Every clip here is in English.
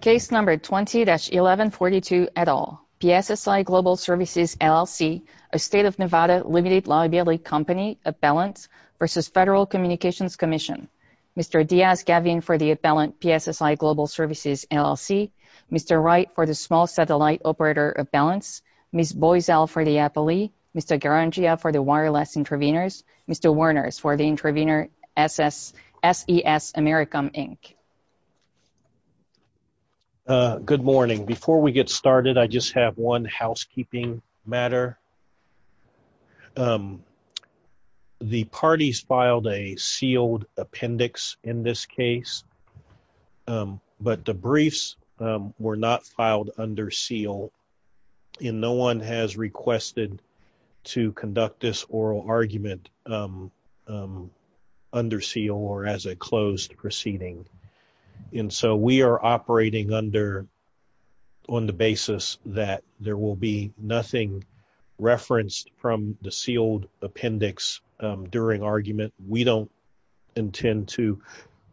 Case No. 20-1142, et al. PSSI Global Services, L.L.C., a state-of-Nevada limited liability company, Appellant, v. Federal Communications Commission. Mr. Diaz-Gavin for the Appellant, PSSI Global Services, L.L.C. Mr. Wright for the Small Satellite Operator, Appellants. Ms. Boisel for the Appellee. Mr. Garangia for the Wireless Intervenors. Mr. Werners for the Intervenor, SES Americam, Inc. Good morning. Before we get started, I just have one housekeeping matter. The parties filed a sealed appendix in this case, but the briefs were not filed under seal, and no one has requested to conduct this oral argument under seal or as a closed proceeding. And so we are operating under, on the basis that there will be nothing referenced from the sealed appendix during argument. We don't intend to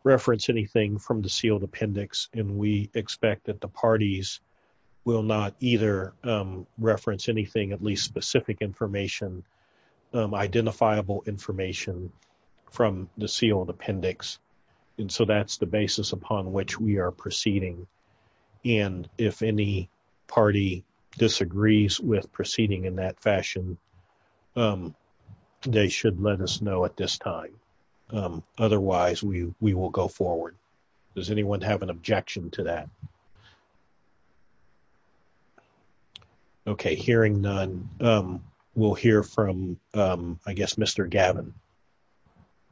reference anything from the sealed anything, at least specific information, identifiable information from the sealed appendix. And so that's the basis upon which we are proceeding. And if any party disagrees with proceeding in that fashion, they should let us know at this time. Otherwise, we will go forward. Does anyone have an objection to that? Okay, hearing none, we'll hear from, I guess, Mr. Gavin.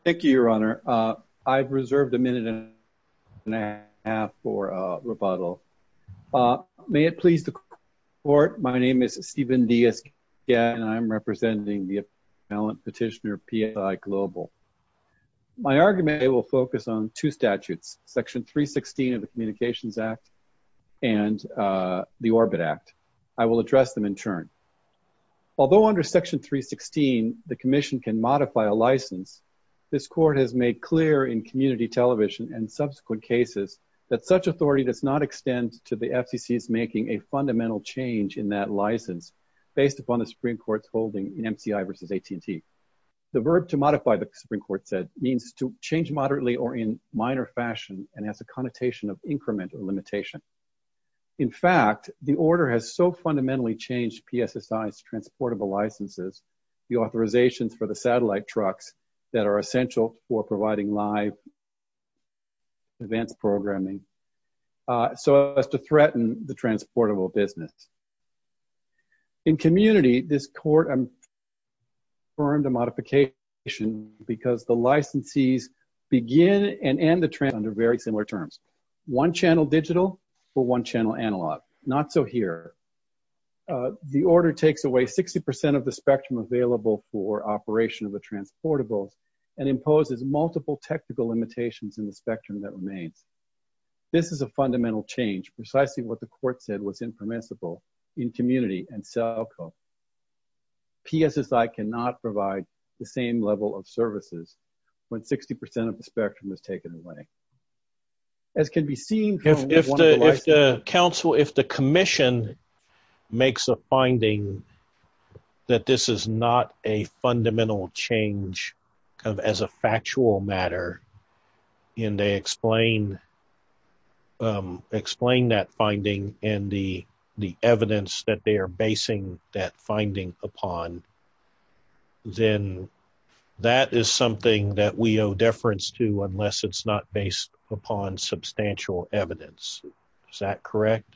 Thank you, Your Honor. I've reserved a minute and a half for rebuttal. May it please the Court, my name is Steven Diaz-Gad, and I'm representing the Appellant Petitioner, PSI Global. My argument will focus on two statutes, Section 316 of the Communications Act and the Orbit Act. I will address them in turn. Although under Section 316, the Commission can modify a license, this Court has made clear in community television and subsequent cases that such authority does not extend to the FCC's making a fundamental change in that license based upon the Supreme Court's holding in MCI v. AT&T. The verb to modify the Supreme Court said means to change moderately or in minor fashion, and has a connotation of increment or limitation. In fact, the order has so fundamentally changed PSSI's transportable licenses, the authorizations for the satellite trucks that are essential for providing live events programming, so as to threaten the transportable business. In community, this Court affirmed a modification because the licensees begin and end the transportable under very similar terms, one channel digital or one channel analog, not so here. The order takes away 60% of the spectrum available for operation of the transportables and imposes multiple technical limitations in the spectrum that remains. This is a fundamental change, precisely what the Court said was impermissible in community and cell code. PSSI cannot provide the same level of services when 60% of the spectrum is taken away. As can be seen from one of the licenses- If the Council, if the Commission makes a finding that this is not a fundamental change as a factual matter, and they explain that finding and the evidence that they are basing that finding upon, then that is something that we owe deference to unless it's not based upon substantial evidence. Is that correct?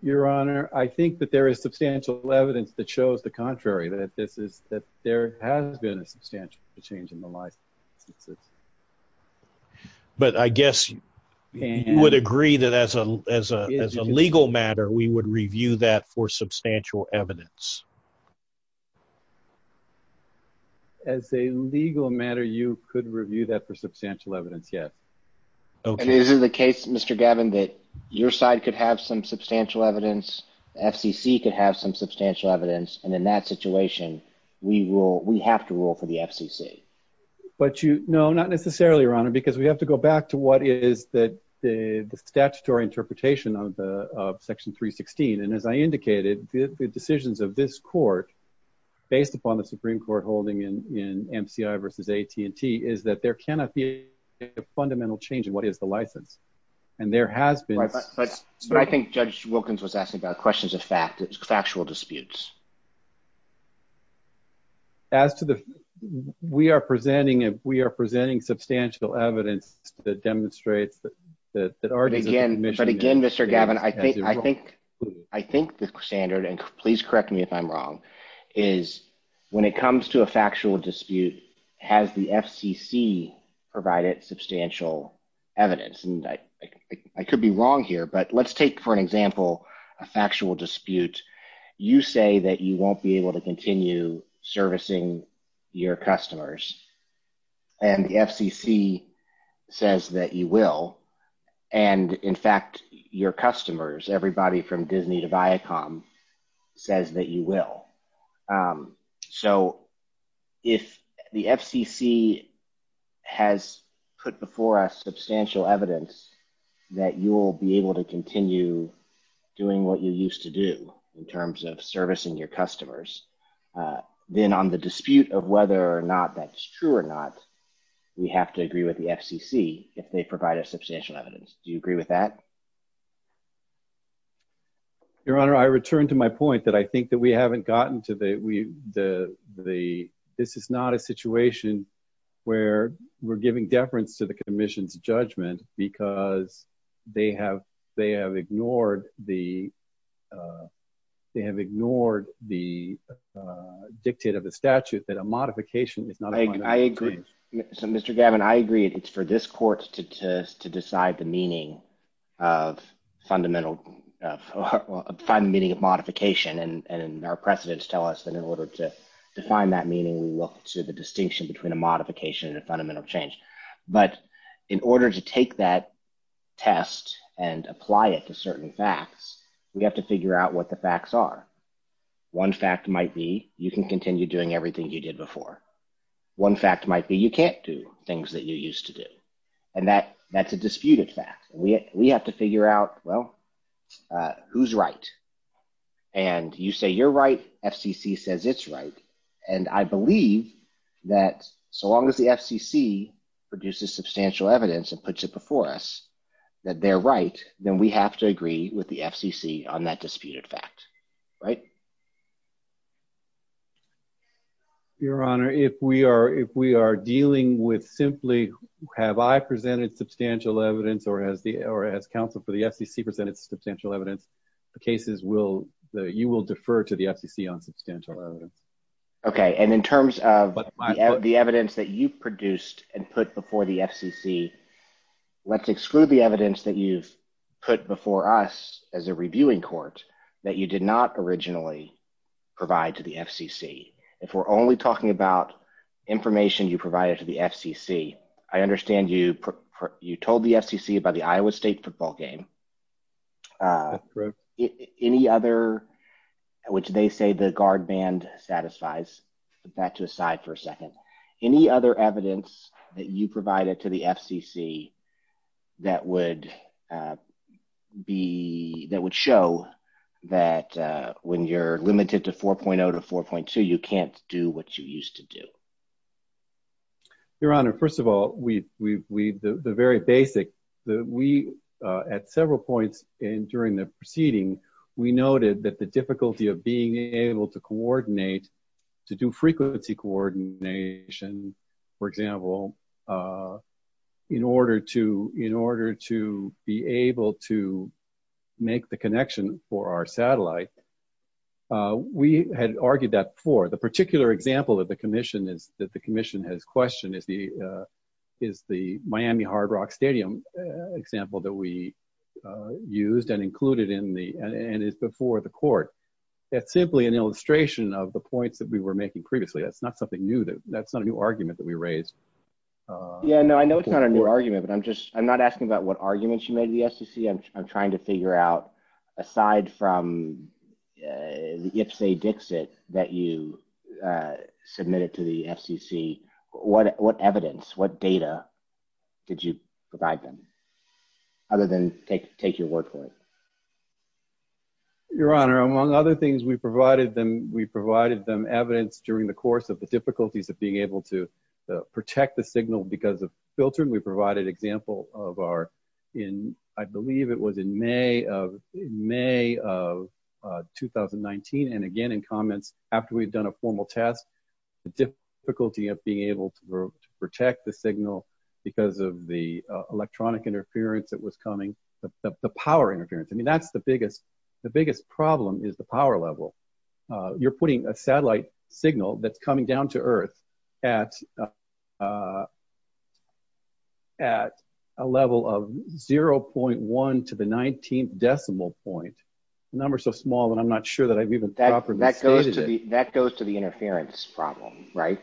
Your Honor, I think that there is substantial evidence that shows the contrary, that this there has been a substantial change in the license. But I guess you would agree that as a legal matter, we would review that for substantial evidence. As a legal matter, you could review that for substantial evidence, yes. Okay. And is it the case, Mr. Gavin, that your side could have some substantial evidence, FCC could have some substantial evidence, and in that situation, we have to rule for the FCC? No, not necessarily, Your Honor, because we have to go back to what is the statutory interpretation of Section 316. And as I indicated, the decisions of this Court, based upon the Supreme Court holding in MCI v. AT&T, is that there cannot be a fundamental change in what is the license. And there has been- But I think Judge Wilkins was asking about questions of fact, factual disputes. As to the- We are presenting substantial evidence that demonstrates that our- But again, Mr. Gavin, I think the standard, and please correct me if I'm wrong, is when it comes to a factual dispute, has the FCC provided substantial evidence? And I could be wrong here, but let's take, for an example, a factual dispute. You say that you won't be able to continue servicing your customers, and the FCC says that you will, and in fact, your customers, everybody from Disney to Viacom, says that you will. So, if the FCC has put before us substantial evidence that you will be able to continue doing what you used to do, in terms of servicing your customers, then on the dispute of whether or not that's true or not, we have to agree with the FCC if they provide us substantial evidence. Do you agree with that? Your Honor, I return to my point that I think that we haven't gotten to the- This is not a situation where we're giving deference to the Commission's judgment because they have ignored the dictate of the statute that a modification is not a- I agree. So, Mr. Gavin, I agree. It's for this Court to decide the meaning of fundamental- find the meaning of modification, and our precedents tell us that in order to define that meaning, we look to the distinction between a modification and a fundamental change. But in order to take that test and apply it to certain facts, we have to figure out what the facts are. One fact might be you can continue doing everything you did before. One fact might be you can't do things that you used to do. And that's a disputed fact. We have to figure out, well, who's right? And you say you're right, FCC says it's right, and I believe that so long as the FCC produces substantial evidence and puts it before us that they're right, then we have to agree with the FCC on that disputed fact. Right? Your Honor, if we are dealing with simply have I presented substantial evidence or has counsel for the FCC presented substantial evidence, the cases will- you will defer to the FCC on substantial evidence. Okay, and in terms of the evidence that you produced and put before the FCC, let's exclude the evidence that you've put before us as a reviewing court that you did not originally provide to the FCC. If we're only talking about information you provided to the FCC, I understand you told the FCC about the Iowa State football game. That's correct. Any other, which they say the guard band satisfies, put that to the side for a second. Any other evidence that you provided to the FCC that would be, that would show that when you're limited to 4.0 to 4.2, you can't do what you used to do? Your Honor, first of all, we, we, we, the, the very basic that we at several points in during the proceeding, we noted that the difficulty of being able to coordinate to do frequency coordination, for example, in order to, in order to be able to make the connection for our satellite, we had argued that before. The particular example that the commission is, that the commission has questioned is the, is the Miami Hard Rock Stadium example that we used and included in the, and is before the court. It's simply an illustration of the points that we were making previously. That's not something new. That's not a new argument that we raised. Yeah, no, I know it's not a new argument, but I'm just, I'm not asking about what arguments you made to the FCC. I'm trying to figure out, aside from the IFSAE-DXIT that you submitted to the FCC, what, what evidence, what data did you provide them? Other than take, take your word for it. Your Honor, among other things we provided them, we provided them evidence during the course of the difficulties of being able to protect the signal because of filtering. We provided example of our, in, I believe it was in May of, in May of 2019. And again, in comments after we'd done a formal test, the difficulty of being able to protect the signal because of the electronic interference that was coming, the power interference. I mean, that's the biggest, the biggest problem is the power level. You're putting a satellite signal that's coming down to earth at, at a level of 0.1 to the 19th decimal point, a number so small that I'm not sure that I've even properly stated it. That goes to the, that goes to the interference problem, right?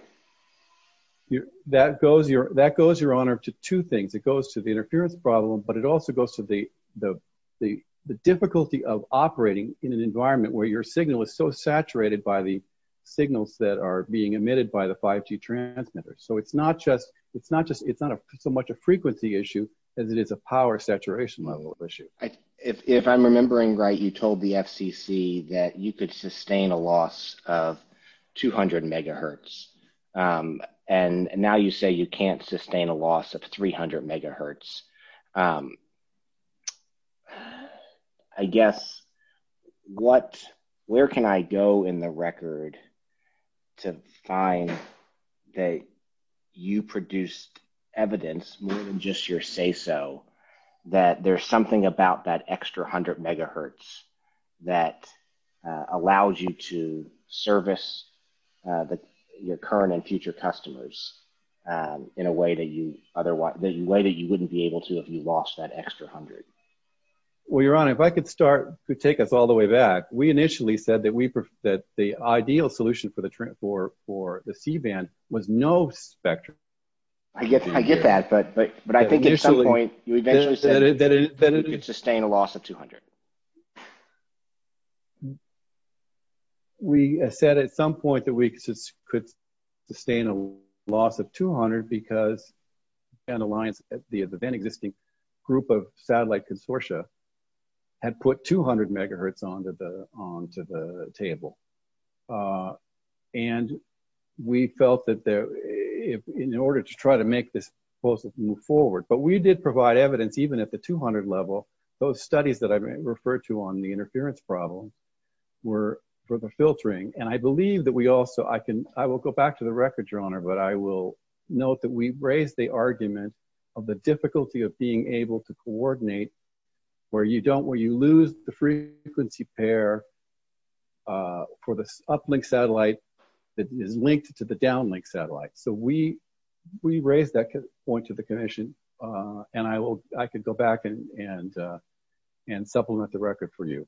That goes your, that goes, Your Honor, to two things. It goes to the interference problem, but it also goes to the, the, the, the difficulty of operating in an environment where your signal is so saturated by the signals that are being emitted by the 5G transmitter. So it's not just, it's not just, it's not so much a frequency issue as it is a power saturation level issue. If I'm remembering right, you told the FCC that you could sustain a loss of 200 megahertz. And now you say you can't sustain a loss of 300 megahertz. I guess, what, where can I go in the record to find that you produced evidence more than just your say-so that there's something about that extra hundred megahertz that allows you to service your current and future customers in a way that you wouldn't be able to do if you lost that extra hundred? Well, Your Honor, if I could start, could take us all the way back. We initially said that we, that the ideal solution for the, for the C-band was no spectrum. I get, I get that, but I think at some point you eventually said that you could sustain a loss of 200. We said at some point that we could sustain a loss of 200 because C-band Alliance, the then existing group of satellite consortia had put 200 megahertz onto the table. And we felt that there, in order to try to make this proposal move forward, but we did provide evidence, even at the 200 level, those studies that I referred to on the interference problem were for the filtering. And I believe that we also, I will go back to the record, Your Honor, but I will note that we raised the argument of the difficulty of being able to coordinate where you don't, where you lose the frequency pair for the uplink satellite that is linked to the downlink satellite. So we raised that point to the commission and I will, I can go back and supplement the record for you.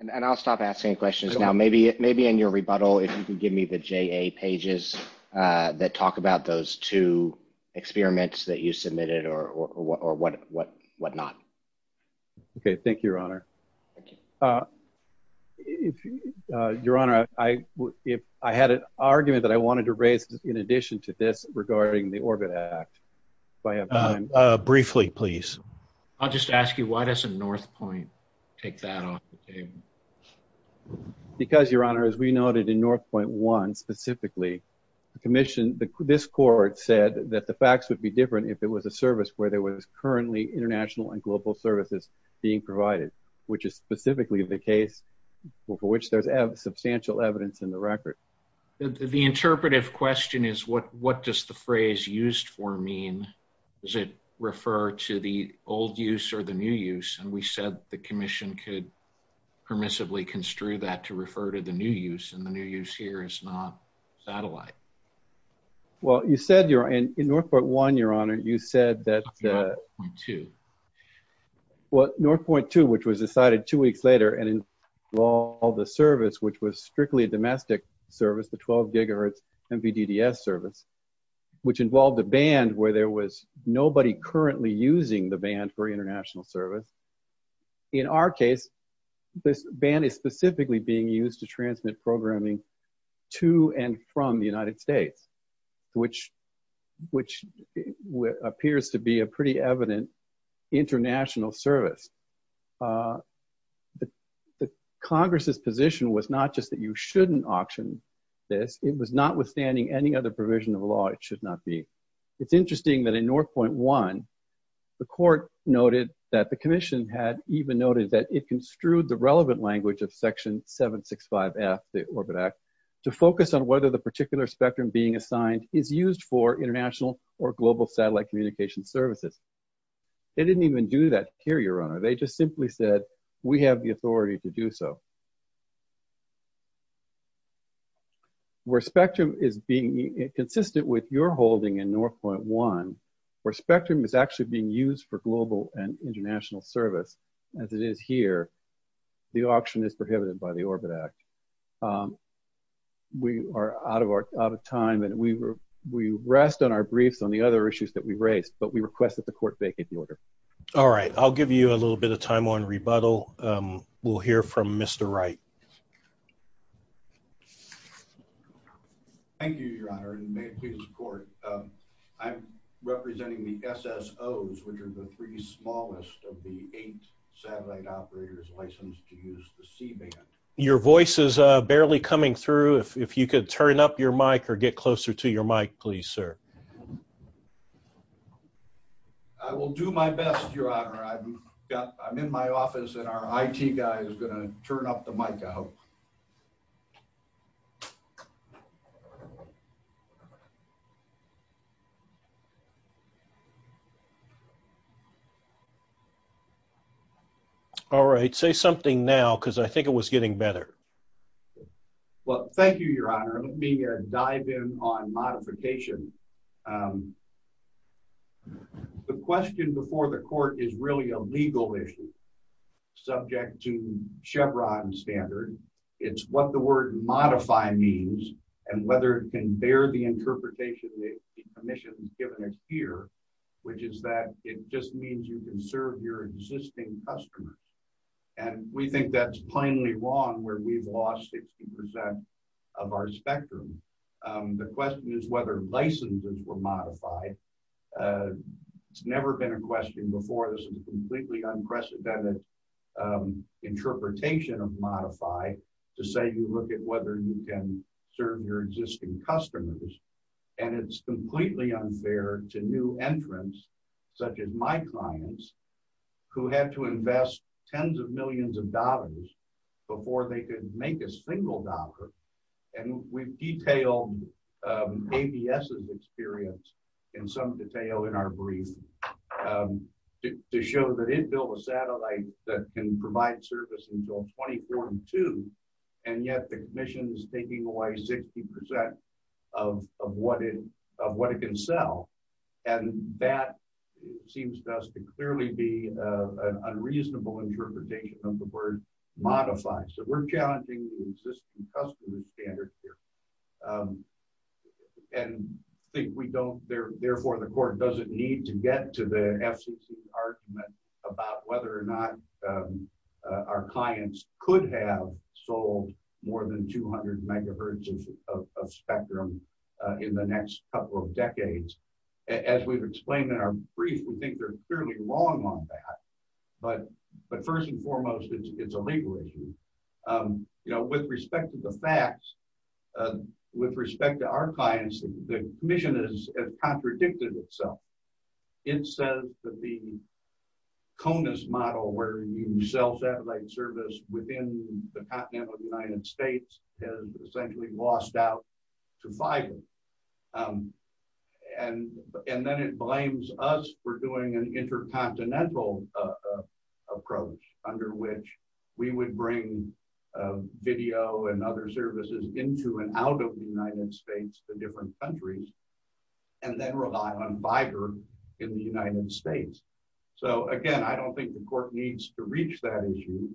And I'll stop asking questions now. Maybe in your rebuttal, if you can give me the JA pages that talk about those two experiments that you submitted or what not. Okay. Thank you, Your Honor. Thank you. Your Honor, I had an argument that I wanted to raise in addition to this regarding the Orbit Act. Briefly, please. I'll just ask you, why doesn't Northpoint take that off the table? Because, Your Honor, as we noted in Northpoint 1, specifically, the commission, this court said that the facts would be different if it was a service where there was currently international and global services being provided, which is specifically the case for which there's substantial evidence in the record. The interpretive question is, what does the phrase used for mean? Does it refer to the old use or the new use? And we said that the commission could permissibly construe that to refer to the new use, and the new use here is not satellite. Well, you said, in Northpoint 1, Your Honor, you said that Northpoint 2, which was decided two weeks later and involved a service which was strictly a domestic service, the 12 GHz MPDDS service, which involved a band where there was nobody currently using the band for international service. In our case, this band is specifically being used to transmit programming to and from the United States, which appears to be a pretty evident international service. The Congress' position was not just that you shouldn't auction this. It was not withstanding any other provision of the law. It should not be. It's interesting that in noted that the commission had even noted that it construed the relevant language of Section 765F of the Orbit Act to focus on whether the particular spectrum being assigned is used for international or global satellite communication services. They didn't even do that here, Your Honor. They just simply said, we have the authority to do so. Where spectrum is being consistent with your holding in Northpoint 1, where spectrum is actually being used for global and international service, as it is here, the auction is prohibited by the Orbit Act. We are out of time, and we rest on our briefs on the other issues that we raised, but we request that the Court vacate the order. All right. I'll give you a little bit of time on rebuttal. We'll hear from Mr. Wright. Thank you, Your Honor, and may it please the Court. I'm representing the SSOs, which are the three smallest of the eight satellite operators licensed to use the C-band. Your voice is barely coming through. If you could turn up your mic or get closer to your mic, please, sir. I will do my best, Your Honor. I'm in my office, and our IT guy is going to turn up the mic, I hope. All right. Say something now, because I think it was getting better. Well, thank you, Your Honor. Let me dive in on modification. The question before the Court is really a legal issue subject to Chevron standard. It's what the word modify means, and whether it can bear the interpretation that it should. The question is, and I think that's the mission given here, which is that it just means you can serve your existing customers, and we think that's plainly wrong, where we've lost 60% of our spectrum. The question is whether licenses were modified. It's never been a question before. This is a completely unprecedented interpretation of the law. It's completely unfair to new entrants, such as my clients, who had to invest tens of millions of dollars before they could make a single dollar. We've detailed ABS's experience in some detail in our brief to show that it built a satellite that can provide service until 2042, and yet the commission is taking away 60% of what it can sell, and that seems to us to clearly be an unreasonable interpretation of the word modify, so we're challenging the existing customer standard here. I think we don't, therefore the court doesn't need to get to the FCC argument about whether or not our clients could have sold more than 200 megahertz of spectrum in the next couple of decades. As we've explained in our brief, we think they're fairly wrong on that, but first and foremost, it's a legal issue. With respect to the facts, with respect to our clients, the commission has contradicted itself. It says that the CONUS model where you sell service within the continent of the United States has essentially lost out to fiber, and then it blames us for doing an intercontinental approach under which we would bring video and other services into and out of the United States to different countries, and then rely on fiber in the United States. Again, I don't think the court needs to reach that issue,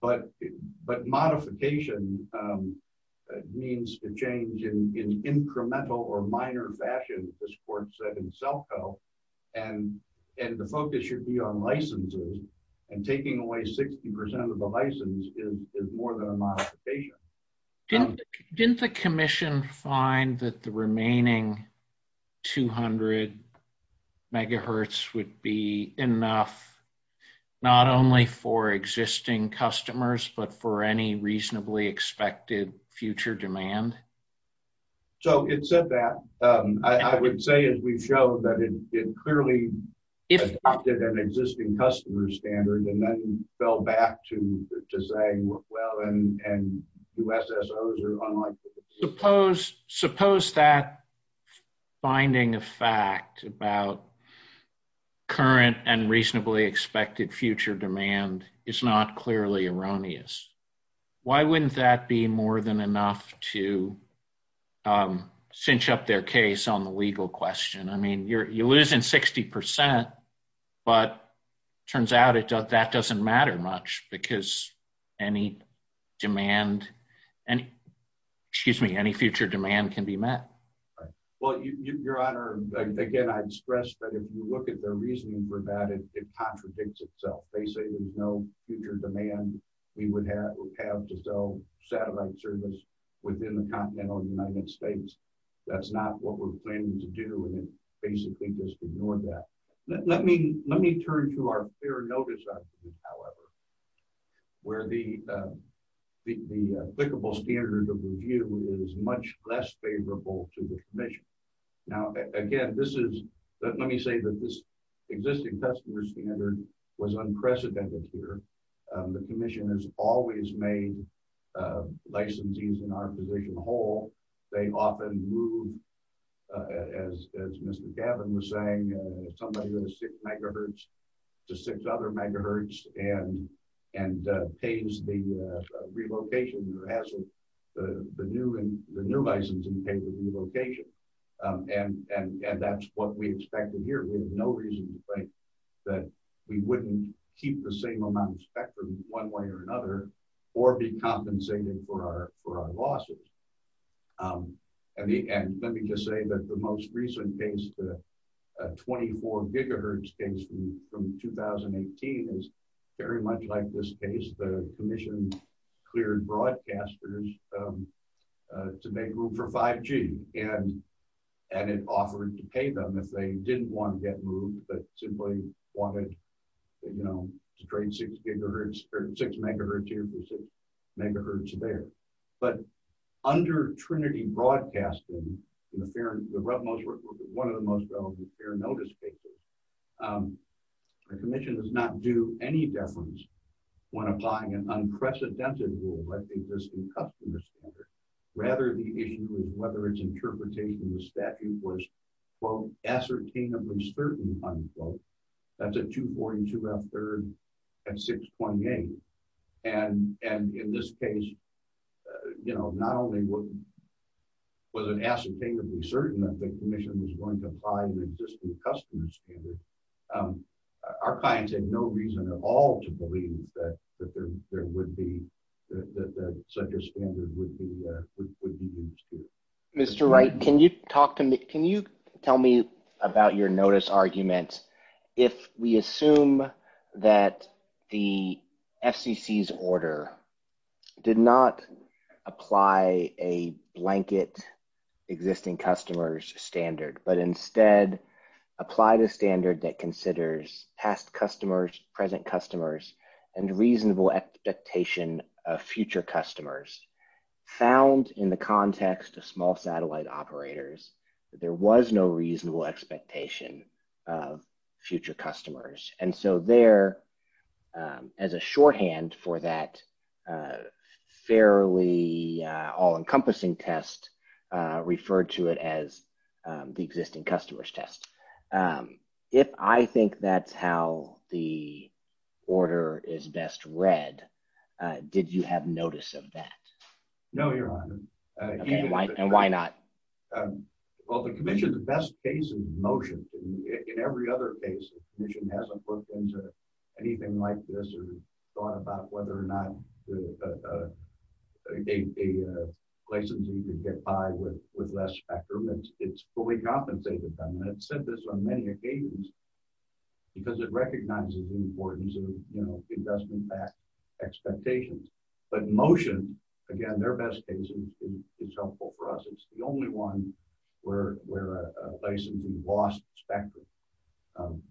but modification means a change in incremental or minor fashion, as the court said in self-help, and the focus should be on licenses, and taking away 60% of the license is more than a modification. Didn't the commission find that the remaining 200 megahertz would be enough, not only for existing customers, but for any reasonably expected future demand? So, it said that. I would say as we've shown that it clearly adopted an existing customer standard, and then fell back to saying, well, and USSOs are unlikely. Suppose that finding of fact about current and reasonably expected future demand is not clearly erroneous. Why wouldn't that be more than enough to cinch up their case on the legal question? I mean, you're losing 60%, but turns out that doesn't matter much, because any demand and, excuse me, any future demand can be met. Well, Your Honor, again, I'd stress that if you look at their reasoning for that, it contradicts itself. They say there's no future demand we would have to sell satellite service within the continental United States. That's not what we're planning to do, and basically just ignored that. Let me turn to our fair notice however, where the applicable standard of review is much less favorable to the Commission. Now, again, this is, let me say that this existing customer standard was unprecedented here. The Commission has always made licensees in our position whole. They often move, as Mr. Gavin was saying, somebody with a 6 MHz to 6 other MHz and pays the relocation or has the new license and pay the relocation. That's what we expected here. We have no reason to think that we wouldn't keep the same amount of spectrum one way or another or be compensated for our losses. Let me just say that the most recent case, the 24 GHz case from 2018 is very much like this case. The Commission cleared broadcasters to make room for 5G and it offered to pay them if they didn't want to get moved but simply wanted to trade 6 MHz here for 6 MHz there. Under Trinity Broadcasting, one of the most relevant fair notice cases, the Commission does not do any deference when applying an unprecedented rule like the existing customer standard. Rather, the issue is whether its interpretation of the statute was ascertainably certain. That's a 242 F3 and in this case not only was it ascertainably certain that the Commission was going to apply the existing customer standard, our clients had no reason at all to believe that such a standard would be used here. Mr. Wright, can you tell me if we assume that the FCC's order did not apply a blanket existing customers standard but instead applied a standard that considers past customers, present customers and reasonable expectation of future customers found in the context of small satellite operators that there was no reasonable expectation of future customers and so there, as a shorthand for that fairly the all-encompassing test referred to it as the existing customers test. If I think that's how the order is best read, did you have notice of that? No, Your Honor. And why not? Well, the Commission, the best case is motion. In every other case, the Commission hasn't looked into anything like this or thought about whether or not a licensee could get by with less spectrum. It's fully compensated them. It's said this on many occasions because it recognizes the importance of, you know, it does impact expectations. But motion, again, their best case is helpful for us. It's the only one where a licensee lost spectrum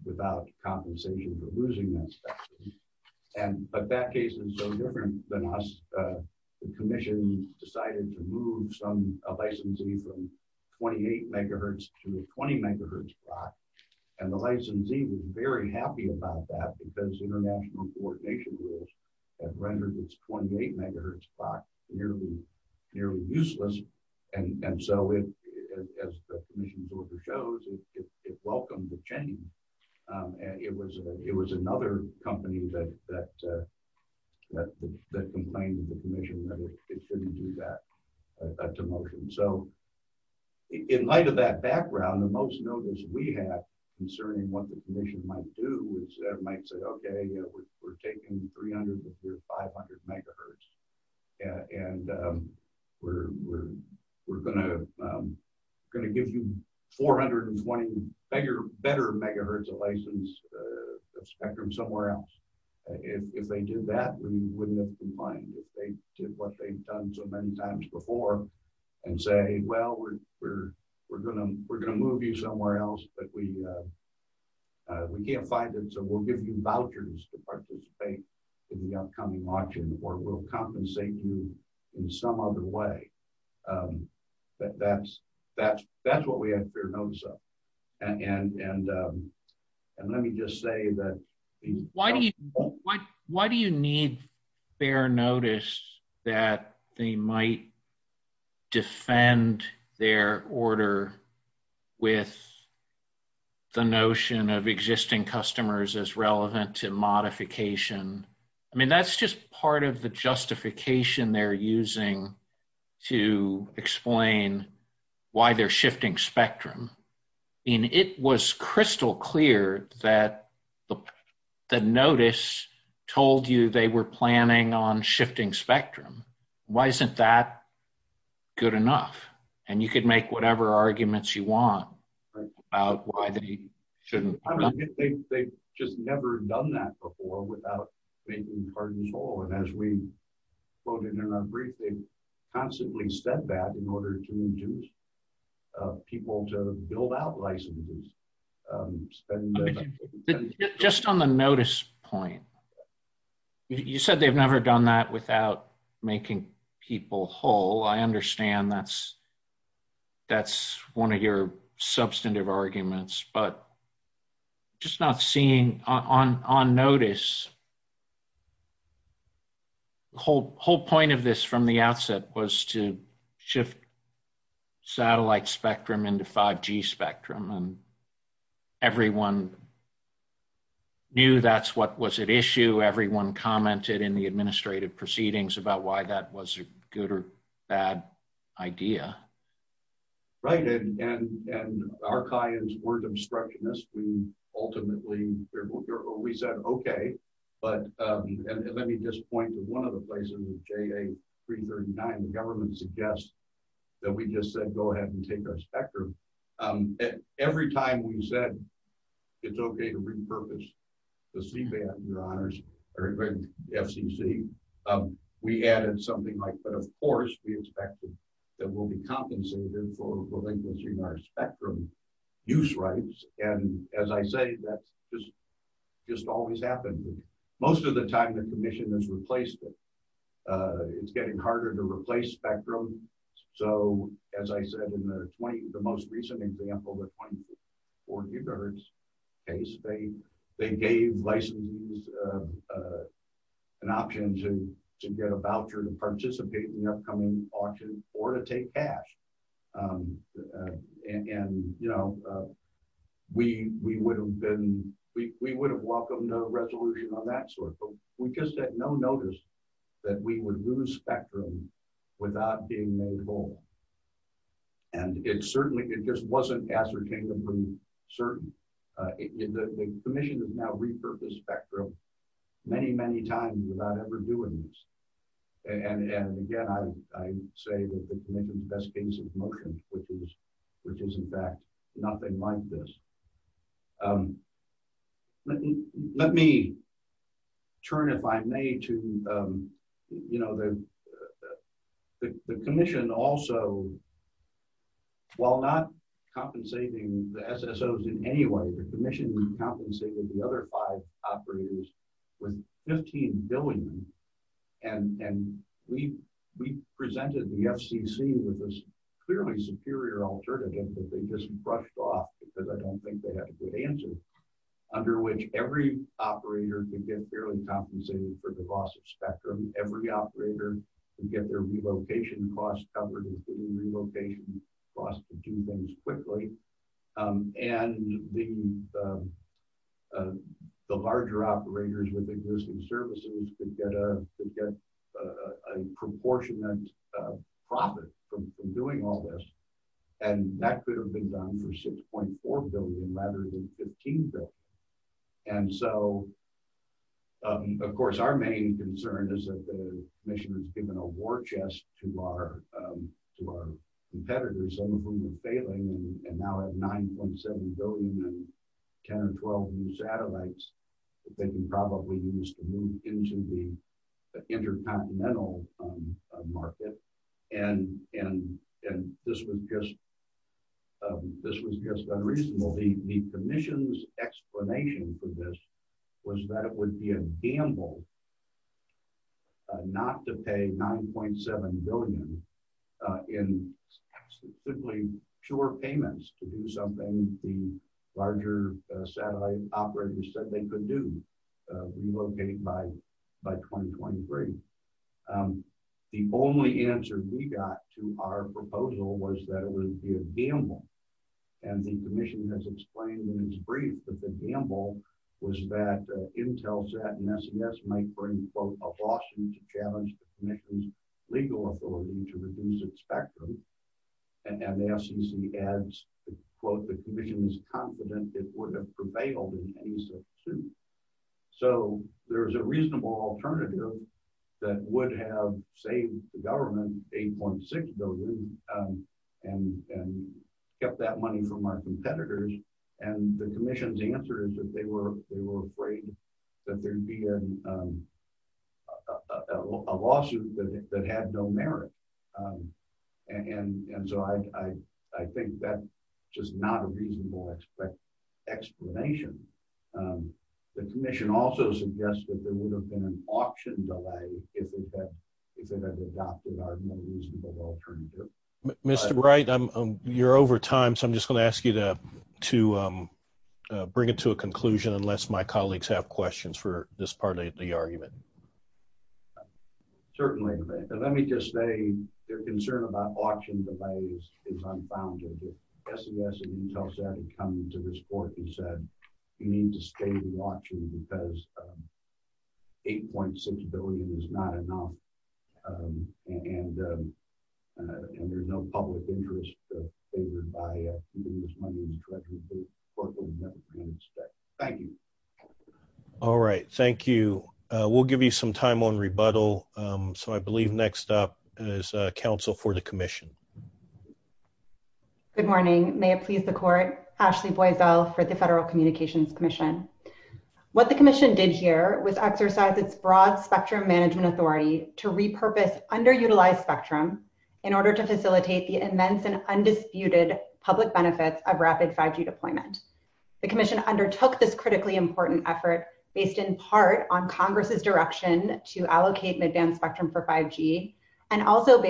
without compensation for losing that spectrum. But that case is so different than us. The Commission decided to move a licensee from 28 MHz to a 20 MHz clock. And the licensee was very happy about that because international coordination rules had rendered this 28 MHz clock nearly useless. And so, as the Commission's order shows, it welcomed the change. It was another company that complained to the Commission that it shouldn't do that to motion. So, in light of that background, the most notice we have concerning what the Commission might do is they might say, okay, we're taking 300 to 500 MHz and we're gonna give you 420 better MHz of license spectrum somewhere else. If they did that, we wouldn't have complained if they did what they've done so many times before and say, well, we're gonna move you somewhere else but we can't find it so we'll give you vouchers to participate in the upcoming auction or we'll compensate you in some other way. That's what we have fair notice of and let me just say that Why do you need fair notice that they might defend their order with the notion of existing customers as relevant to modification? I mean, that's just part of the justification they're using to explain why they're shifting spectrum. It was crystal clear that the notice told you they were planning on shifting spectrum. Why isn't that good enough? And you could make whatever arguments you want about why they shouldn't. They've just never done that before without making cards whole and as we quoted in our briefing they constantly said that in order to induce people to build out licenses Just on the notice point you said they've never done that without making people whole I understand that's one of your substantive arguments but just not seeing on notice The whole point of this from the outset was to shift satellite spectrum into 5G spectrum and everyone knew that's what was at issue. Everyone commented in the administrative proceedings about why that was a good or bad idea Right and our clients weren't obstructionists we ultimately we said okay but let me just point to one of the places JA339 the government suggests that we just said go ahead and take our spectrum Every time we said it's okay to repurpose the CBAN your honors FCC we added something like but of course we expected it will be compensated for relinquishing our spectrum use rights and as I say that just always happens most of the time the commission has replaced it it's getting harder to replace spectrum so as I said in the most recent example the 24 gigahertz case they gave licensees an option to get a voucher to participate in the upcoming auction or to take cash and you know we would have welcomed no resolution on that sort but we just had no notice that we would lose spectrum without being made whole and it certainly it just wasn't ascertainably certain the commission has now repurposed spectrum many many times without ever doing this and again I say that the commission's best case motion which is in fact nothing like this let me turn if I may to you know the commission also while not compensating the SSO's in any way the commission compensated the other five operators with 15 billion and we presented the FCC with this clearly superior alternative that they just brushed off because I don't think they had a good answer under which every operator could get fairly compensated for the loss of spectrum every operator could get their relocation costs covered relocation costs to do things quickly and the larger operators with existing services could get a proportionate profit from doing all this and that could have been done for 6.4 billion rather than 15 billion and so of course our main concern is that the commission has given a war chest to our competitors some of whom are failing and now have 9.7 billion and 10 or 12 new satellites that they can probably use to move into the intercontinental market and this was just unreasonable the commission's explanation for this was that it would be a gamble not to pay 9.7 billion in absolutely pure payments to do something the larger satellite operators said they could do relocate by 2023 the only answer we got to our proposal was that it would be a gamble and the commission has explained in its brief that the gamble was that IntelSat and SES might bring a lawsuit to challenge the commission's legal authority to reduce its spectrum and SEC adds the commission is confident it would prevail so there is a reasonable alternative that would have saved the government 8.6 billion and kept that money from our competitors and the commission's answer is that they were afraid that there would be a lawsuit that had no merit and so I think that's just not a reasonable explanation the commission also suggested there would have been an auction delay if it had adopted a reasonable alternative Mr. Wright, you're over time so I'm just going to ask you to bring it to a conclusion unless my colleagues have questions for this part of the argument certainly let me just say their concern about auction delays is unfounded SES and IntelSat have come to this court and said you need to stay watching because 8.6 billion is not enough and there's no public interest favored by giving this money to the corporate government thank you all right, thank you we'll give you some time on rebuttal so I believe next up is Ashley Boisel for the Federal Communications Commission Good morning may it please the court Ashley Boisel for the Federal Communications Commission what the commission did here was exercise its broad spectrum management authority to repurpose underutilized spectrum in order to facilitate the immense and undisputed public benefits of rapid 5G deployment the commission undertook this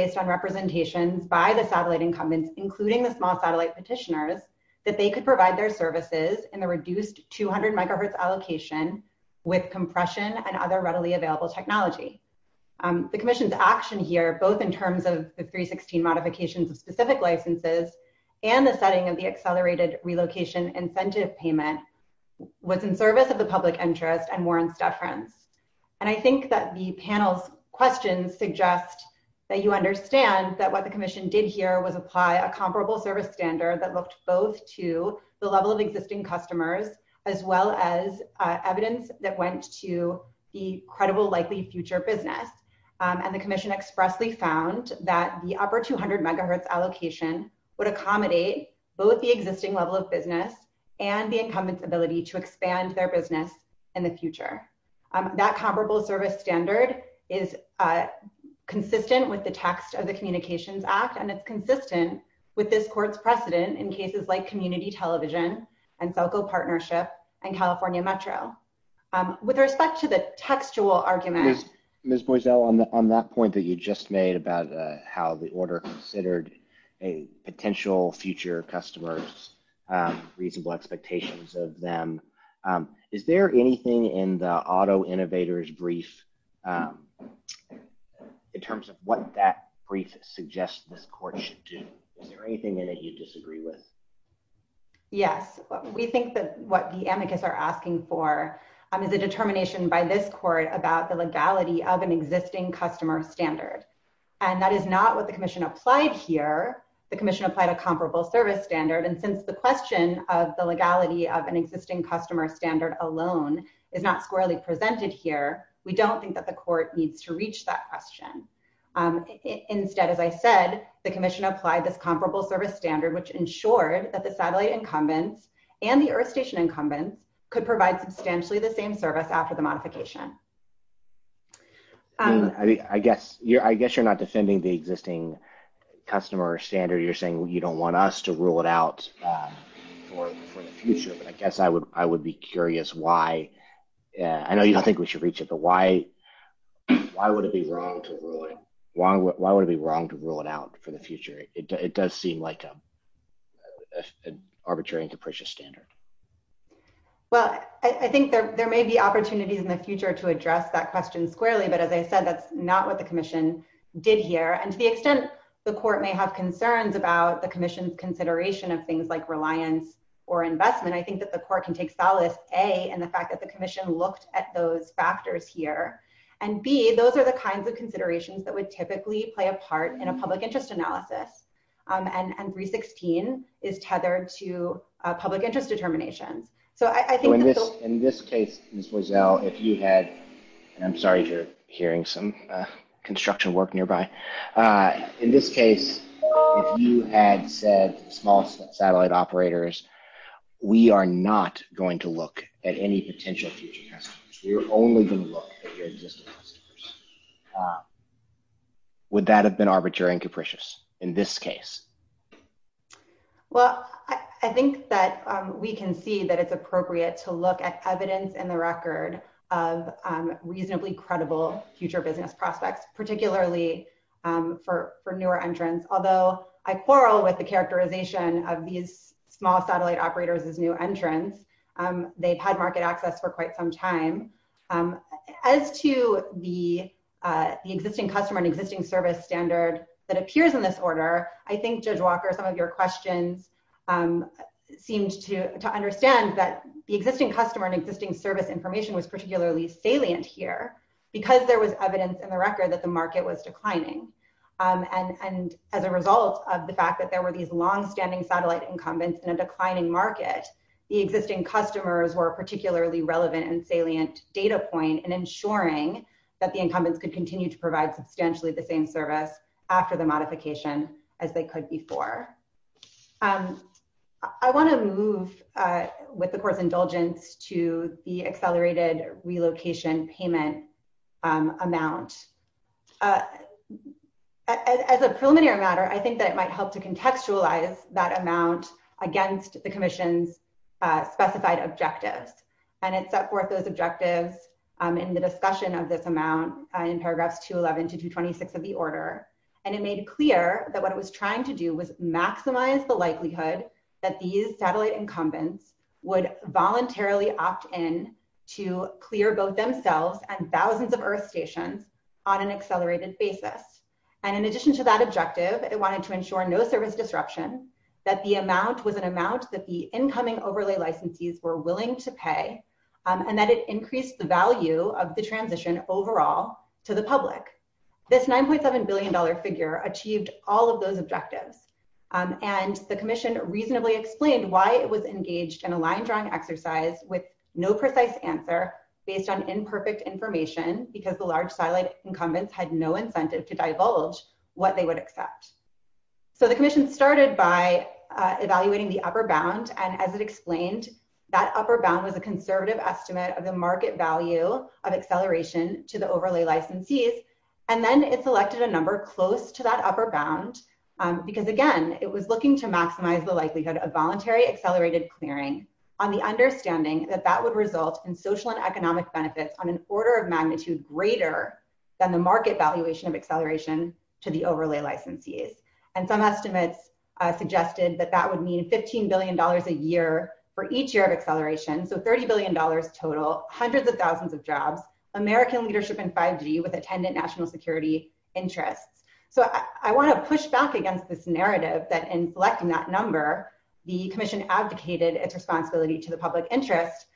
based on representations by the satellite incumbents including the small satellite petitioners that they could provide their services in the reduced 200 MHz allocation with compression and other readily available technology the commission's action here both in terms of the 316 modifications of specific licenses and the setting of the accelerated relocation incentive payment was in service of the public interest and warrants deference and I think that the panel's questions suggest that you understand that what the commission did here was apply a comparable service standard that looked both to the level of existing customers as well as evidence that went to the credible likely future business and the commission expressly found that the upper 200 MHz allocation would accommodate both the existing level of business and the incumbent's ability to expand their business in the future that comparable service standard is consistent with the text of the Communications Act and it's consistent with this court's precedent in cases like Community Television and Celco Partnership and California Metro with respect to the textual argument. Ms. Boiesel on that point that you just made about how the order considered a potential future customers reasonable expectations of them is there anything in the Metro Innovator's brief in terms of what that brief suggests this court should do? Is there anything in it you disagree with? Yes. We think that what the amicus are asking for is a determination by this court about the legality of an existing customer standard and that is not what the commission applied here the commission applied a comparable service standard and since the question of the legality of an existing customer standard alone is not squarely presented here we don't think that the court needs to reach that question instead as I said the commission applied this comparable service standard which ensured that the satellite incumbents and the earth station incumbents could provide substantially the same service after the modification I guess you're not defending the existing customer standard you're saying you don't want us to rule it out for the future but I guess I would be curious why I know you don't think we should reach it but why would it be wrong to rule it out for the future? It does seem like an arbitrary and capricious standard Well I think there may be opportunities in the future to address that question squarely but as I said that's not what the commission did here and to the extent the court may have concerns about the commission's consideration of things like reliance or investment I think that the court can take solace A in the fact that the commission looked at those factors here and B those are the kinds of considerations that would typically play a part in a public interest analysis and 316 is tethered to public interest determinations so I think In this case Ms. Boisel I'm sorry you're hearing some construction work nearby in this case if you had said small satellite operators we are not going to look at any potential future customers we are only going to look at your existing customers Would that have been arbitrary and capricious in this case? Well I think that we can see that it's appropriate to look at evidence in the record of reasonably credible future business prospects particularly for newer entrants although I quarrel with the characterization of these small satellite operators as new entrants they've had market access for quite some time as to the existing customer and existing service standard that appears in this order I think Judge Walker some of your questions seemed to understand that the existing customer and existing service information was particularly salient here because there was evidence in the record that the market was declining and as a result of the fact that there were these long-standing satellite incumbents in a declining market, the existing customers were particularly relevant and salient data point in ensuring that the incumbents could continue to provide substantially the same service after the modification as they could before I want to move with the Court's indulgence to the accelerated relocation payment amount as a preliminary matter I think that it might help to contextualize that amount against the Commission's specified objectives and it set forth those objectives in the discussion of this amount in paragraphs 211 to 226 of the order and it made clear that what it was trying to do was maximize the likelihood that these satellite incumbents would voluntarily opt in to clear both themselves and thousands of earth stations on an accelerated basis and in addition to that objective it wanted to ensure no service disruption that the amount was an amount that the incoming overlay licensees were willing to pay and that it increased the value of the transition overall to the public this $9.7 billion figure achieved all of those objectives and the Commission reasonably explained why it was engaged in a no precise answer based on imperfect information because the large satellite incumbents had no incentive to divulge what they would accept so the Commission started by evaluating the upper bound and as it explained that upper bound was a conservative estimate of the market value of acceleration to the overlay licensees and then it selected a number close to that upper bound because again it was looking to maximize the likelihood of voluntary accelerated clearing on the understanding that that would result in social and economic benefits on an order of magnitude greater than the market valuation of acceleration to the overlay licensees and some estimates suggested that that would mean $15 billion a year for each year of acceleration so $30 billion total hundreds of thousands of jobs American leadership in 5G with attendant national security interests so I want to push back against this narrative that in selecting that number the Commission advocated its responsibility to the public interest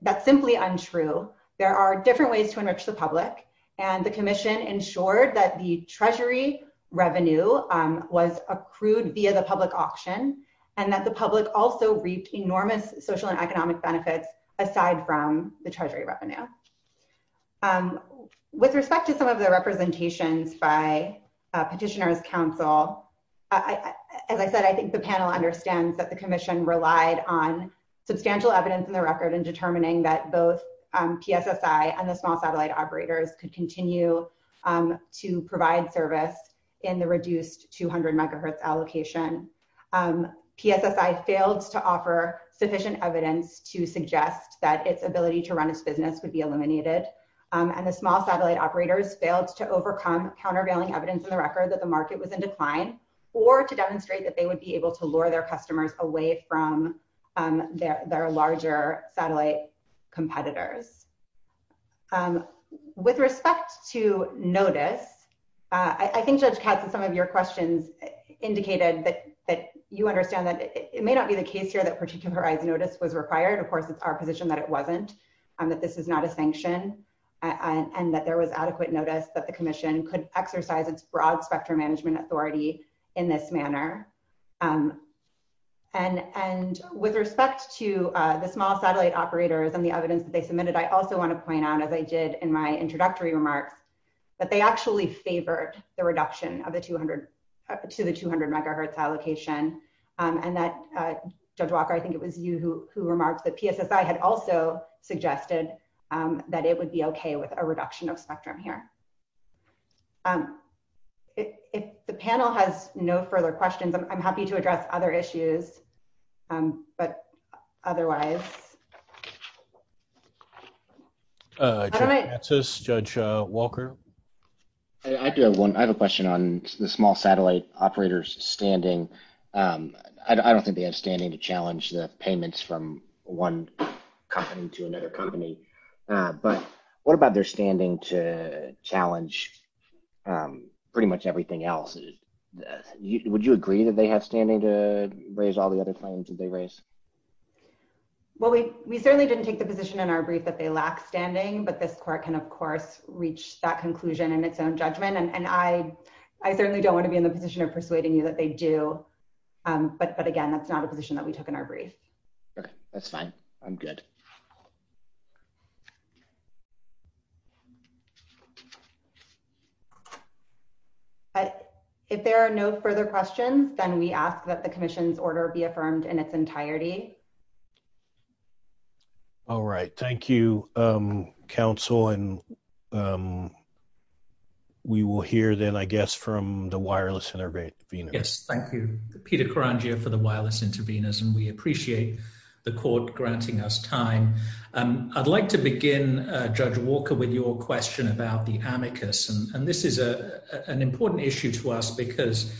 that's simply untrue there are different ways to enrich the public and the Commission ensured that the treasury revenue was accrued via the public auction and that the public also reaped enormous social and economic benefits aside from the treasury revenue with respect to some of the representations by petitioners council as I said I think the panel understands that the Commission relied on substantial evidence in the record in determining that both PSSI and the small satellite operators could continue to provide service in the reduced 200 megahertz allocation PSSI failed to offer sufficient evidence to suggest that its ability to run its business would be eliminated and the small satellite operators failed to overcome countervailing evidence in the record that the market was in decline or to demonstrate that they would be able to lure their customers away from their larger satellite competitors with respect to notice I think Judge Katzen some of your questions indicated that you understand that it may not be the case here that particularized notice was required of course it's our position that it wasn't and that this is not a sanction and that there was adequate notice that the Commission could exercise its broad spectrum management authority in this manner and with respect to the small satellite operators and the evidence that they submitted I also want to point out as I did in my introductory remarks that they actually favored the reduction of the 200 to the 200 megahertz allocation and that Judge Walker I think it was you who remarked that PSSI had also suggested that it would be okay with a reduction of spectrum here if the panel has no further questions I'm happy to address other issues but otherwise Judge Walker I do have one I have a question on the small satellite operators standing I don't think they have standing to challenge the payments from one company to what about their standing to challenge pretty much everything else would you agree that they have standing to raise all the other claims that they raise well we certainly didn't take the position in our brief that they lack standing but this court can of course reach that conclusion in its own judgment and I certainly don't want to be in the position of persuading you that they do but again that's not a position that we took in our brief that's fine I'm good thank you if there are no further questions then we ask that the commission's order be affirmed in its entirety all right thank you counsel and we will hear then I guess from the wireless intervener yes thank you Peter Karangia for the wireless interveners and we appreciate the court granting us time I'd like to begin Judge Walker with your question about the amicus and this is a an important issue to us because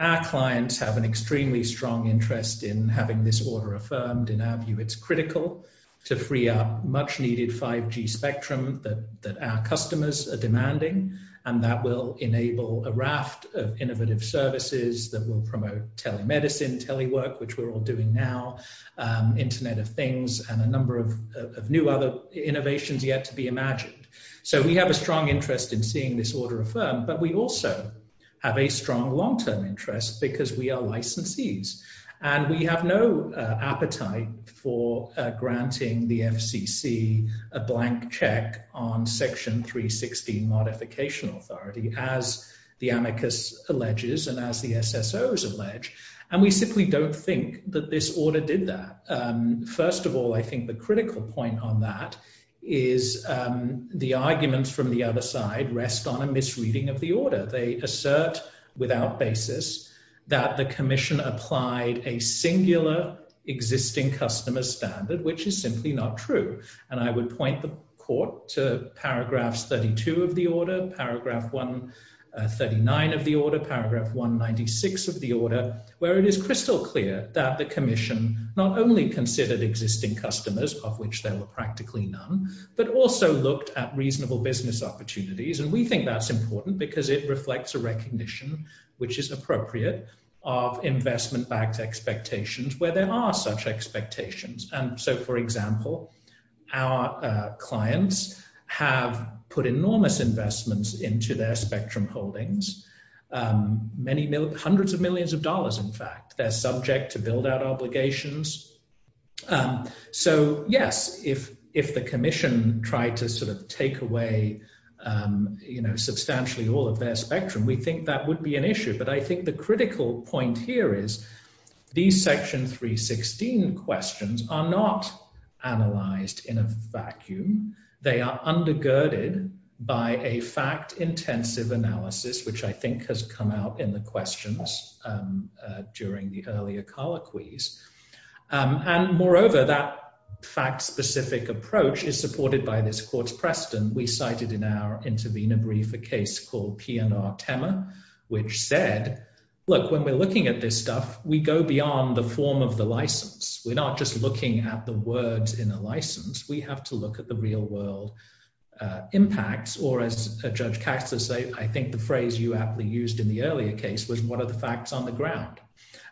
our clients have an extremely strong interest in having this order affirmed in our view it's critical to free up much needed 5G spectrum that our customers are demanding and that will enable a raft of innovative services that will promote telemedicine telework which we're all doing now internet of things and a number of new other innovations yet to be imagined so we have a strong interest in seeing this order affirmed but we also have a strong long term interest because we are licensees and we have no appetite for granting the FCC a blank check on section 316 modification authority as the amicus alleges and as the SSO's allege and we simply don't think that this order did that first of all I think the critical point on that is the arguments from the other side rest on a misreading of the order they assert without basis that the commission applied a singular existing customer standard which is simply not true and I would point the court to paragraphs 32 of the order paragraph 139 of the order paragraph 196 of the order where it is crystal clear that the commission not only considered existing customers of which there were practically none but also looked at reasonable business opportunities and we think that's important because it reflects a recognition which is appropriate of investment backed expectations where there are such expectations and so for example our clients have put enormous investments into their many hundreds of millions of dollars in fact they're subject to build out obligations so yes if the commission tried to sort of take away substantially all of their spectrum we think that would be an issue but I think the critical point here is these section 316 questions are not analyzed in a vacuum they are undergirded by a fact intensive analysis which I think has come out in the questions during the earlier colloquies and moreover that fact specific approach is supported by this court's precedent we cited in our intervenor brief a case called P&R Temer which said look when we're looking at this stuff we go beyond the form of the license we're not just looking at the words in a license we have to look at the real world impacts or as Judge Caxter said I think the phrase you aptly used in the earlier case was what are the facts on the ground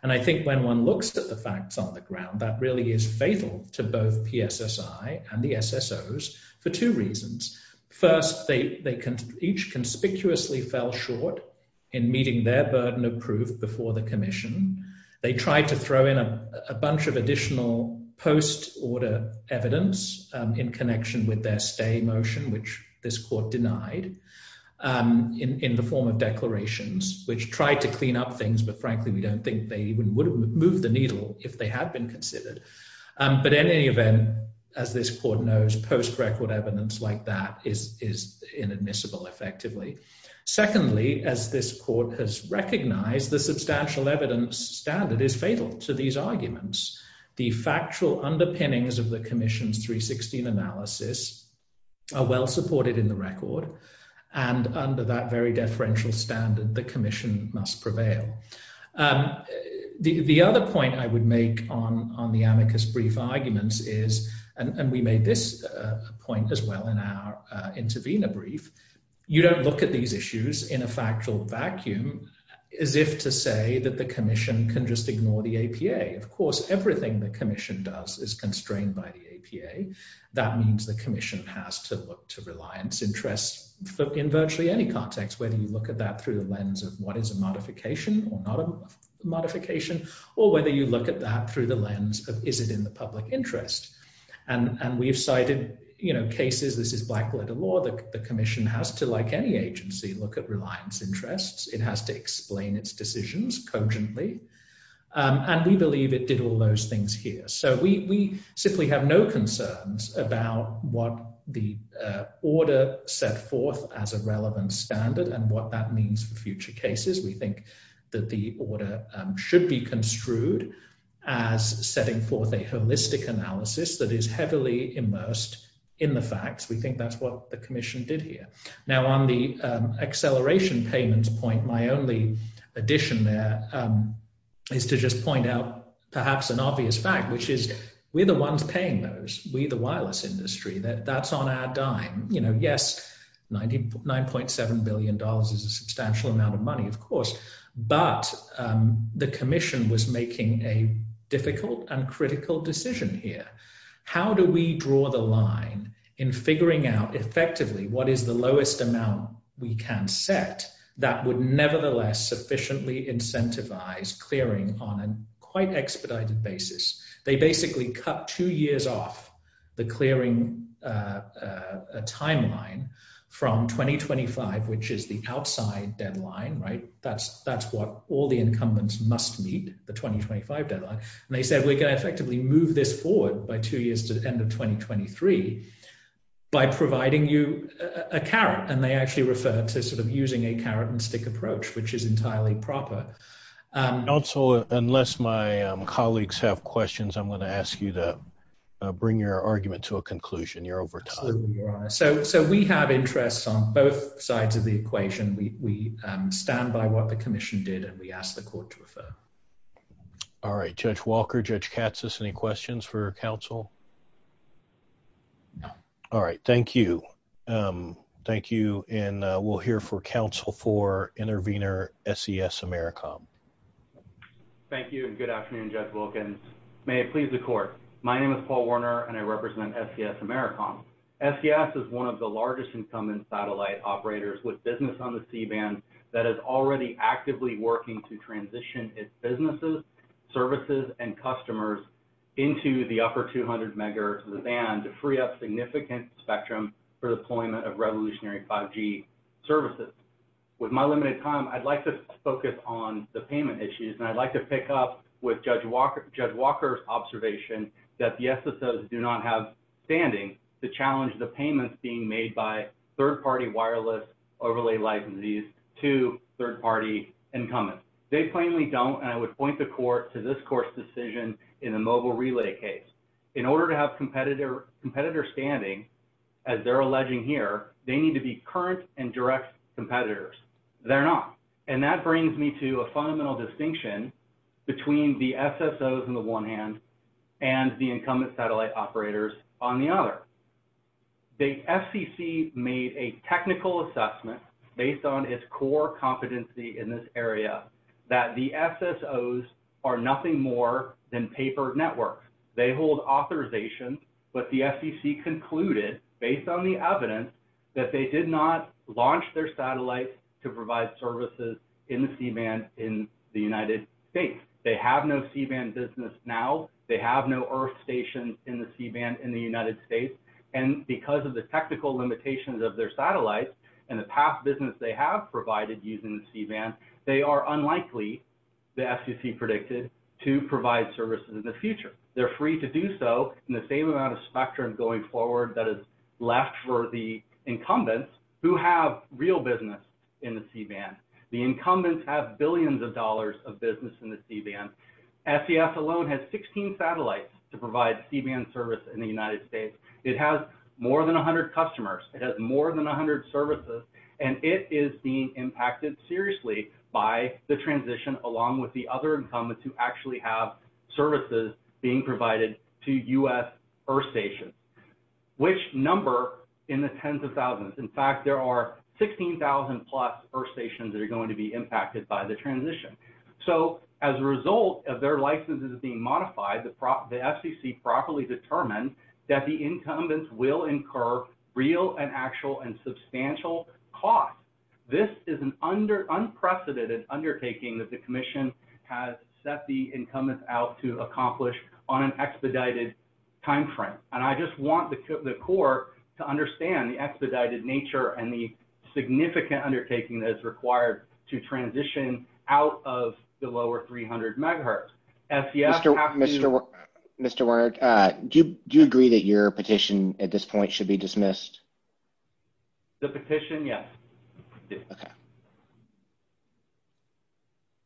and I think when one looks at the facts on the ground that really is fatal to both PSSI and the SSO's for two reasons first they each conspicuously fell short in meeting their burden of proof before the commission they tried to throw in a bunch of additional post order evidence in connection with their stay motion which this court denied in the form of declarations which tried to clean up things but frankly we don't think they would have moved the needle if they had been considered but in any event as this court knows post record evidence like that is inadmissible effectively. Secondly as this court has recognized the substantial evidence standard is fatal to these arguments the factual underpinnings of the commission's 316 analysis are well supported in the record and under that very deferential standard the commission must prevail the other point I would make on the amicus brief arguments is and we made this point as well in our intervenor brief you don't look at these issues in a factual vacuum as if to say that the commission can just ignore the APA of course everything the commission has to do is look at the APA of course the commission has to look at the APA that means the commission has to look to reliance interest in virtually any context whether you look at that through the lens of what is a modification or not a modification or whether you look at that through the lens of is it in the public interest and we've cited you know cases this is black glitter law the commission has to like any agency look at reliance interests it has to explain its decisions cogently and we believe it did all those things here so we simply have no concerns about what the order set forth as a relevant standard and what that means for future cases we think that the order should be construed as setting forth a holistic analysis that is heavily immersed in the facts we think that's what the commission did here now on the acceleration payments point my only addition there is to just point out perhaps an obvious fact which is we're the ones paying those we the wireless industry that that's on our dime you know yes 99.7 billion dollars is a substantial amount of money of course but the commission was making a difficult and critical decision here how do we draw the line in figuring out effectively what is the lowest amount we can set that would nevertheless sufficiently incentivize clearing on an quite expedited basis they basically cut two years off the clearing a timeline from 2025 which is the outside deadline right that's that's what all the incumbents must meet the 2025 deadline and they said we can effectively move this forward by two years to the end of 2023 by providing you a carrot and they actually refer to sort of using a carrot and stick approach which is entirely proper unless my colleagues have questions I'm going to ask you to bring your argument to a conclusion you're over time so we have interests on both sides of the equation we stand by what the commission did and we ask the court to refer all right Judge Walker Judge Katsas any questions for counsel no all right thank you thank you and we'll hear for counsel for intervener SES Americom thank you and good afternoon Judge Wilkins may it please the court my name is Paul Warner and I represent SES Americom SES is one of the largest incumbent satellite operators with business on the seabed that is already actively working to transition its businesses services and customers into the upper 200 megahertz band to free up significant spectrum for deployment of revolutionary 5G services with my limited time I'd like to focus on the payment issues and I'd like to pick up with Judge Walker's observation that the SSOs do not have standing to challenge the payments being made by third party wireless overlay licensees to third party incumbents they plainly don't and I would point the court to this court's decision in a mobile relay case in order to have competitor standing as they're alleging here they need to be current and direct competitors they're not and that brings me to a fundamental distinction between the SSOs in the one hand and the incumbent satellite operators on the other the FCC made a technical assessment based on its core competency in this area that the SSOs are nothing more than paper networks they hold authorization but the FCC concluded based on the evidence that they did not launch their satellite to provide services in the C-band in the United States they have no C-band business now they have no earth stations in the C-band in the United States and because of the technical limitations of their satellite and the past business they have provided using the C-band they are unlikely the FCC predicted to provide services in the future they're free to do so in the same amount of spectrum going forward that is left for the incumbents who have real business in the C-band the incumbents have billions of dollars of business in the C-band SES alone has 16 satellites to provide C-band service in the United States it has more than 100 customers it has more than 100 services and it is being impacted seriously by the transition along with the other incumbents who actually have services being provided to US earth stations which number in the tens of thousands in fact there are 16,000 plus earth stations that are going to be impacted by the transition so as a result of their licenses being modified the FCC properly determined that the incumbents will incur real and actual and substantial cost this is an unprecedented undertaking that the commission has set the incumbents out to accomplish on an expedited time frame and I just want the court to understand the expedited nature and the significant undertaking that is required to transition out of the lower 300 MHz Mr. Mr. do you agree that your petition at this point should be dismissed the petition yes okay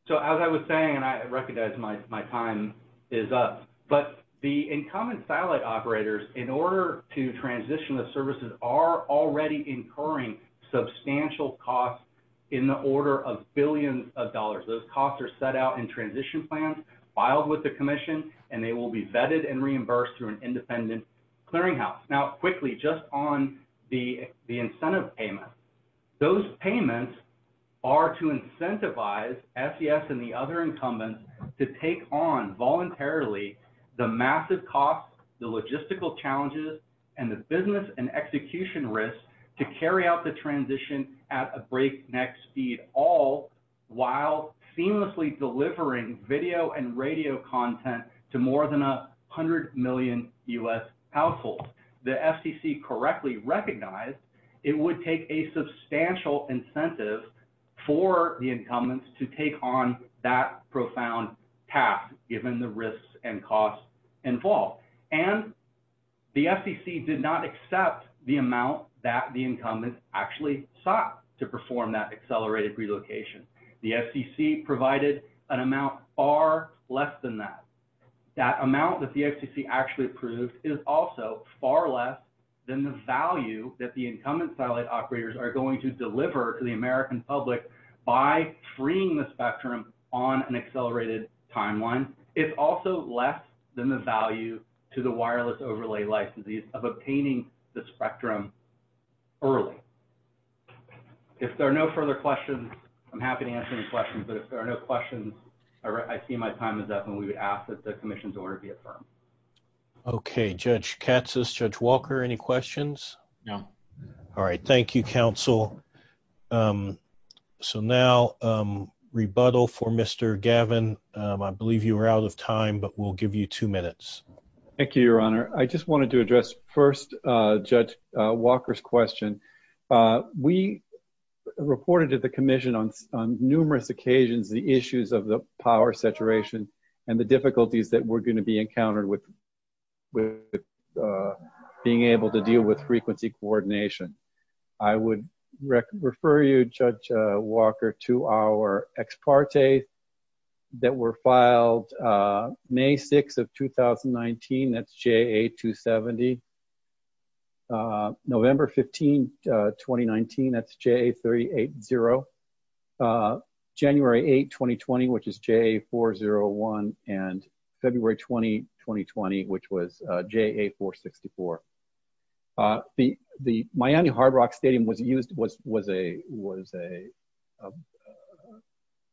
so as I was saying and I recognize my time is up but the incumbent satellite operators in order to transition the services are already incurring substantial costs in the order of billions of dollars those costs are set out in transition plans filed with the commission and they will be vetted and reimbursed through an independent clearinghouse now quickly just on the incentive payment those payments are to incentivize SES and the other incumbents to take on voluntarily the massive cost the logistical challenges and the business and execution risks to carry out the transition at a breakneck speed all while seamlessly delivering video and radio content to more than 100 million US households the FCC correctly recognized it would take a substantial incentive for the incumbents to take on that profound task given the risks and costs involved and the FCC did not accept the amount that the incumbents actually sought to perform that accelerated relocation. The FCC provided an amount far less than that. That amount that the FCC actually approved is also far less than the value that the incumbent satellite operators are going to deliver to the American public by freeing the spectrum on an accelerated timeline. It's also less than the value to the wireless overlay licenses of obtaining the spectrum early. If there are no further questions, I'm happy to answer any questions, but if there are no questions, I see my time is up, and we would ask that the commission's order be affirmed. Okay. Judge Katsas, Judge Walker, any questions? No. All right. Thank you, counsel. So now, rebuttal for Mr. Gavin. I believe you are out of time, but we'll give you two minutes. Thank you, Your Honor. I just wanted to address first Judge Walker's question. We reported to the commission on numerous occasions the issues of the power saturation and the difficulties that we're going to be encountered with being able to deal with frequency coordination. I would refer you, Judge Walker, to our ex parte that were filed May 6 of 2019. That's JA270. November 15, 2019, that's JA380. January 8, 2020, which is JA401, and February 20, 2020, which was JA464. The Miami Hard Rock Stadium was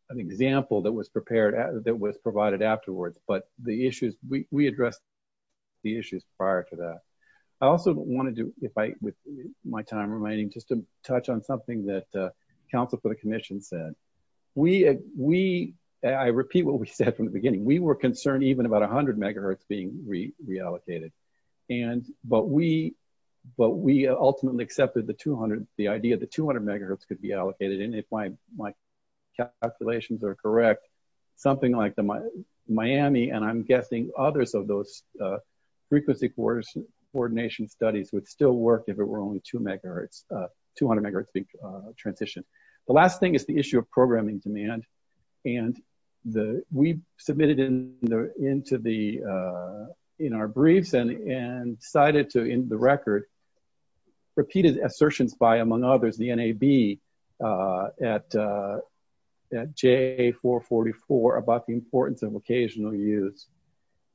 an example that was provided afterwards, but we addressed the issues prior to that. I also wanted to, with my time remaining, just to touch on something that counsel for the commission said. I repeat what we said from the beginning. We were concerned even about 100 MHz being reallocated, but we ultimately accepted the idea that 200 MHz could be allocated, and if my calculations are correct, something like Miami, and I'm guessing others of those frequency coordination studies would still work if it were only 200 MHz being transitioned. The last thing is the issue of programming demand, and we submitted in our briefs and cited in the record repeated assertions by, among others, the NAB at JA444 about the importance of occasional use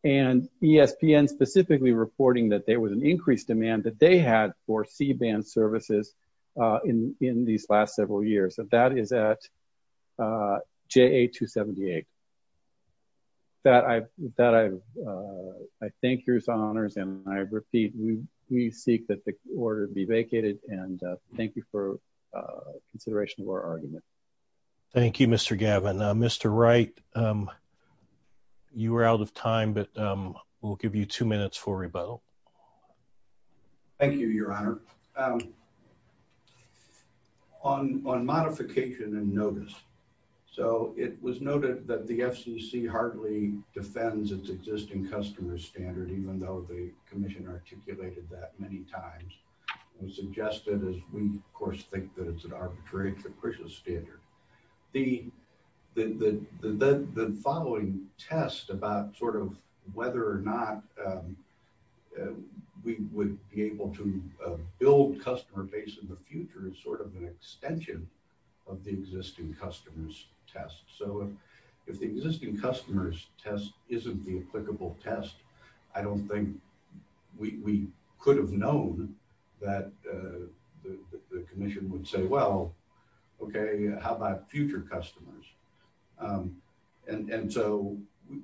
and ESPN specifically reporting that there was an increased demand that they had for C-band services in these last several years. That is at JA278. I thank your honors, and I repeat, we seek that the order be vacated, and thank you for consideration of this more argument. Thank you, Mr. Gavin. Mr. Wright, you were out of time, but we'll give you two minutes for rebuttal. Thank you, your honor. On modification and notice, so it was noted that the FCC hardly defends its existing customer standard, even though the commission articulated that many times. It was suggested as we, of course, think that it's an arbitrary and capricious standard. The following test about sort of whether or not we would be able to build customer base in the future is sort of an extension of the existing customer's test. So if the existing customer's test isn't the applicable test, I don't think we could have known that the commission would say, well, okay, how about future customers? And so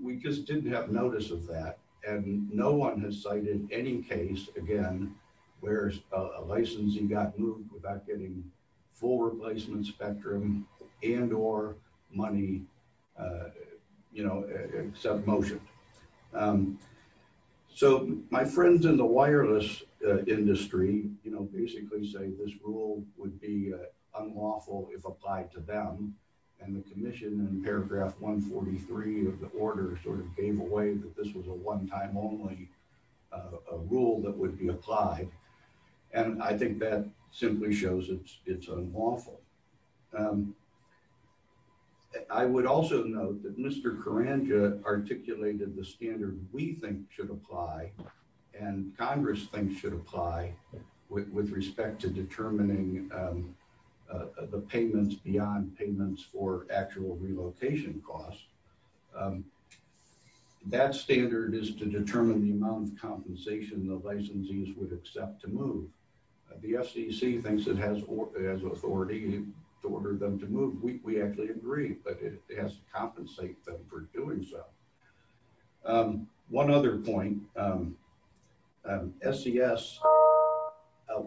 we just didn't have notice of that, and no one has cited any case, again, where a licensee got moved without getting full replacement spectrum and or money, you know, except motion. So my friends in the wireless industry, you know, basically say this rule would be unlawful if applied to them, and the commission in paragraph 143 of the order sort of gave away that this was a one-time only rule that would be applied, and I think that simply shows it's unlawful. I would also note that Mr. Karanja articulated the commission thinks it should apply and Congress thinks it should apply with respect to determining the payments beyond payments for actual relocation costs, that standard is to determine the amount of compensation the licensees would accept to move. The SEC thinks it has authority to order them to move. We actually agree, but it has to compensate them for doing so. One other point, SES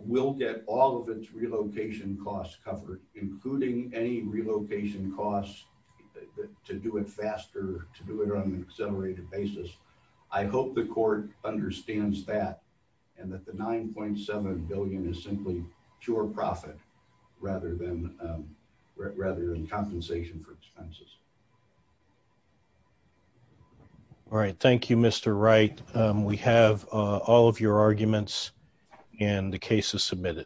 will get all of its relocation costs covered, including any relocation costs to do it faster, to do it on an accelerated basis. I hope the court understands that and that the $9.7 billion is simply pure profit rather than compensation for expenses. Thank you, Mr. Wright. We have all of your arguments and the cases submitted.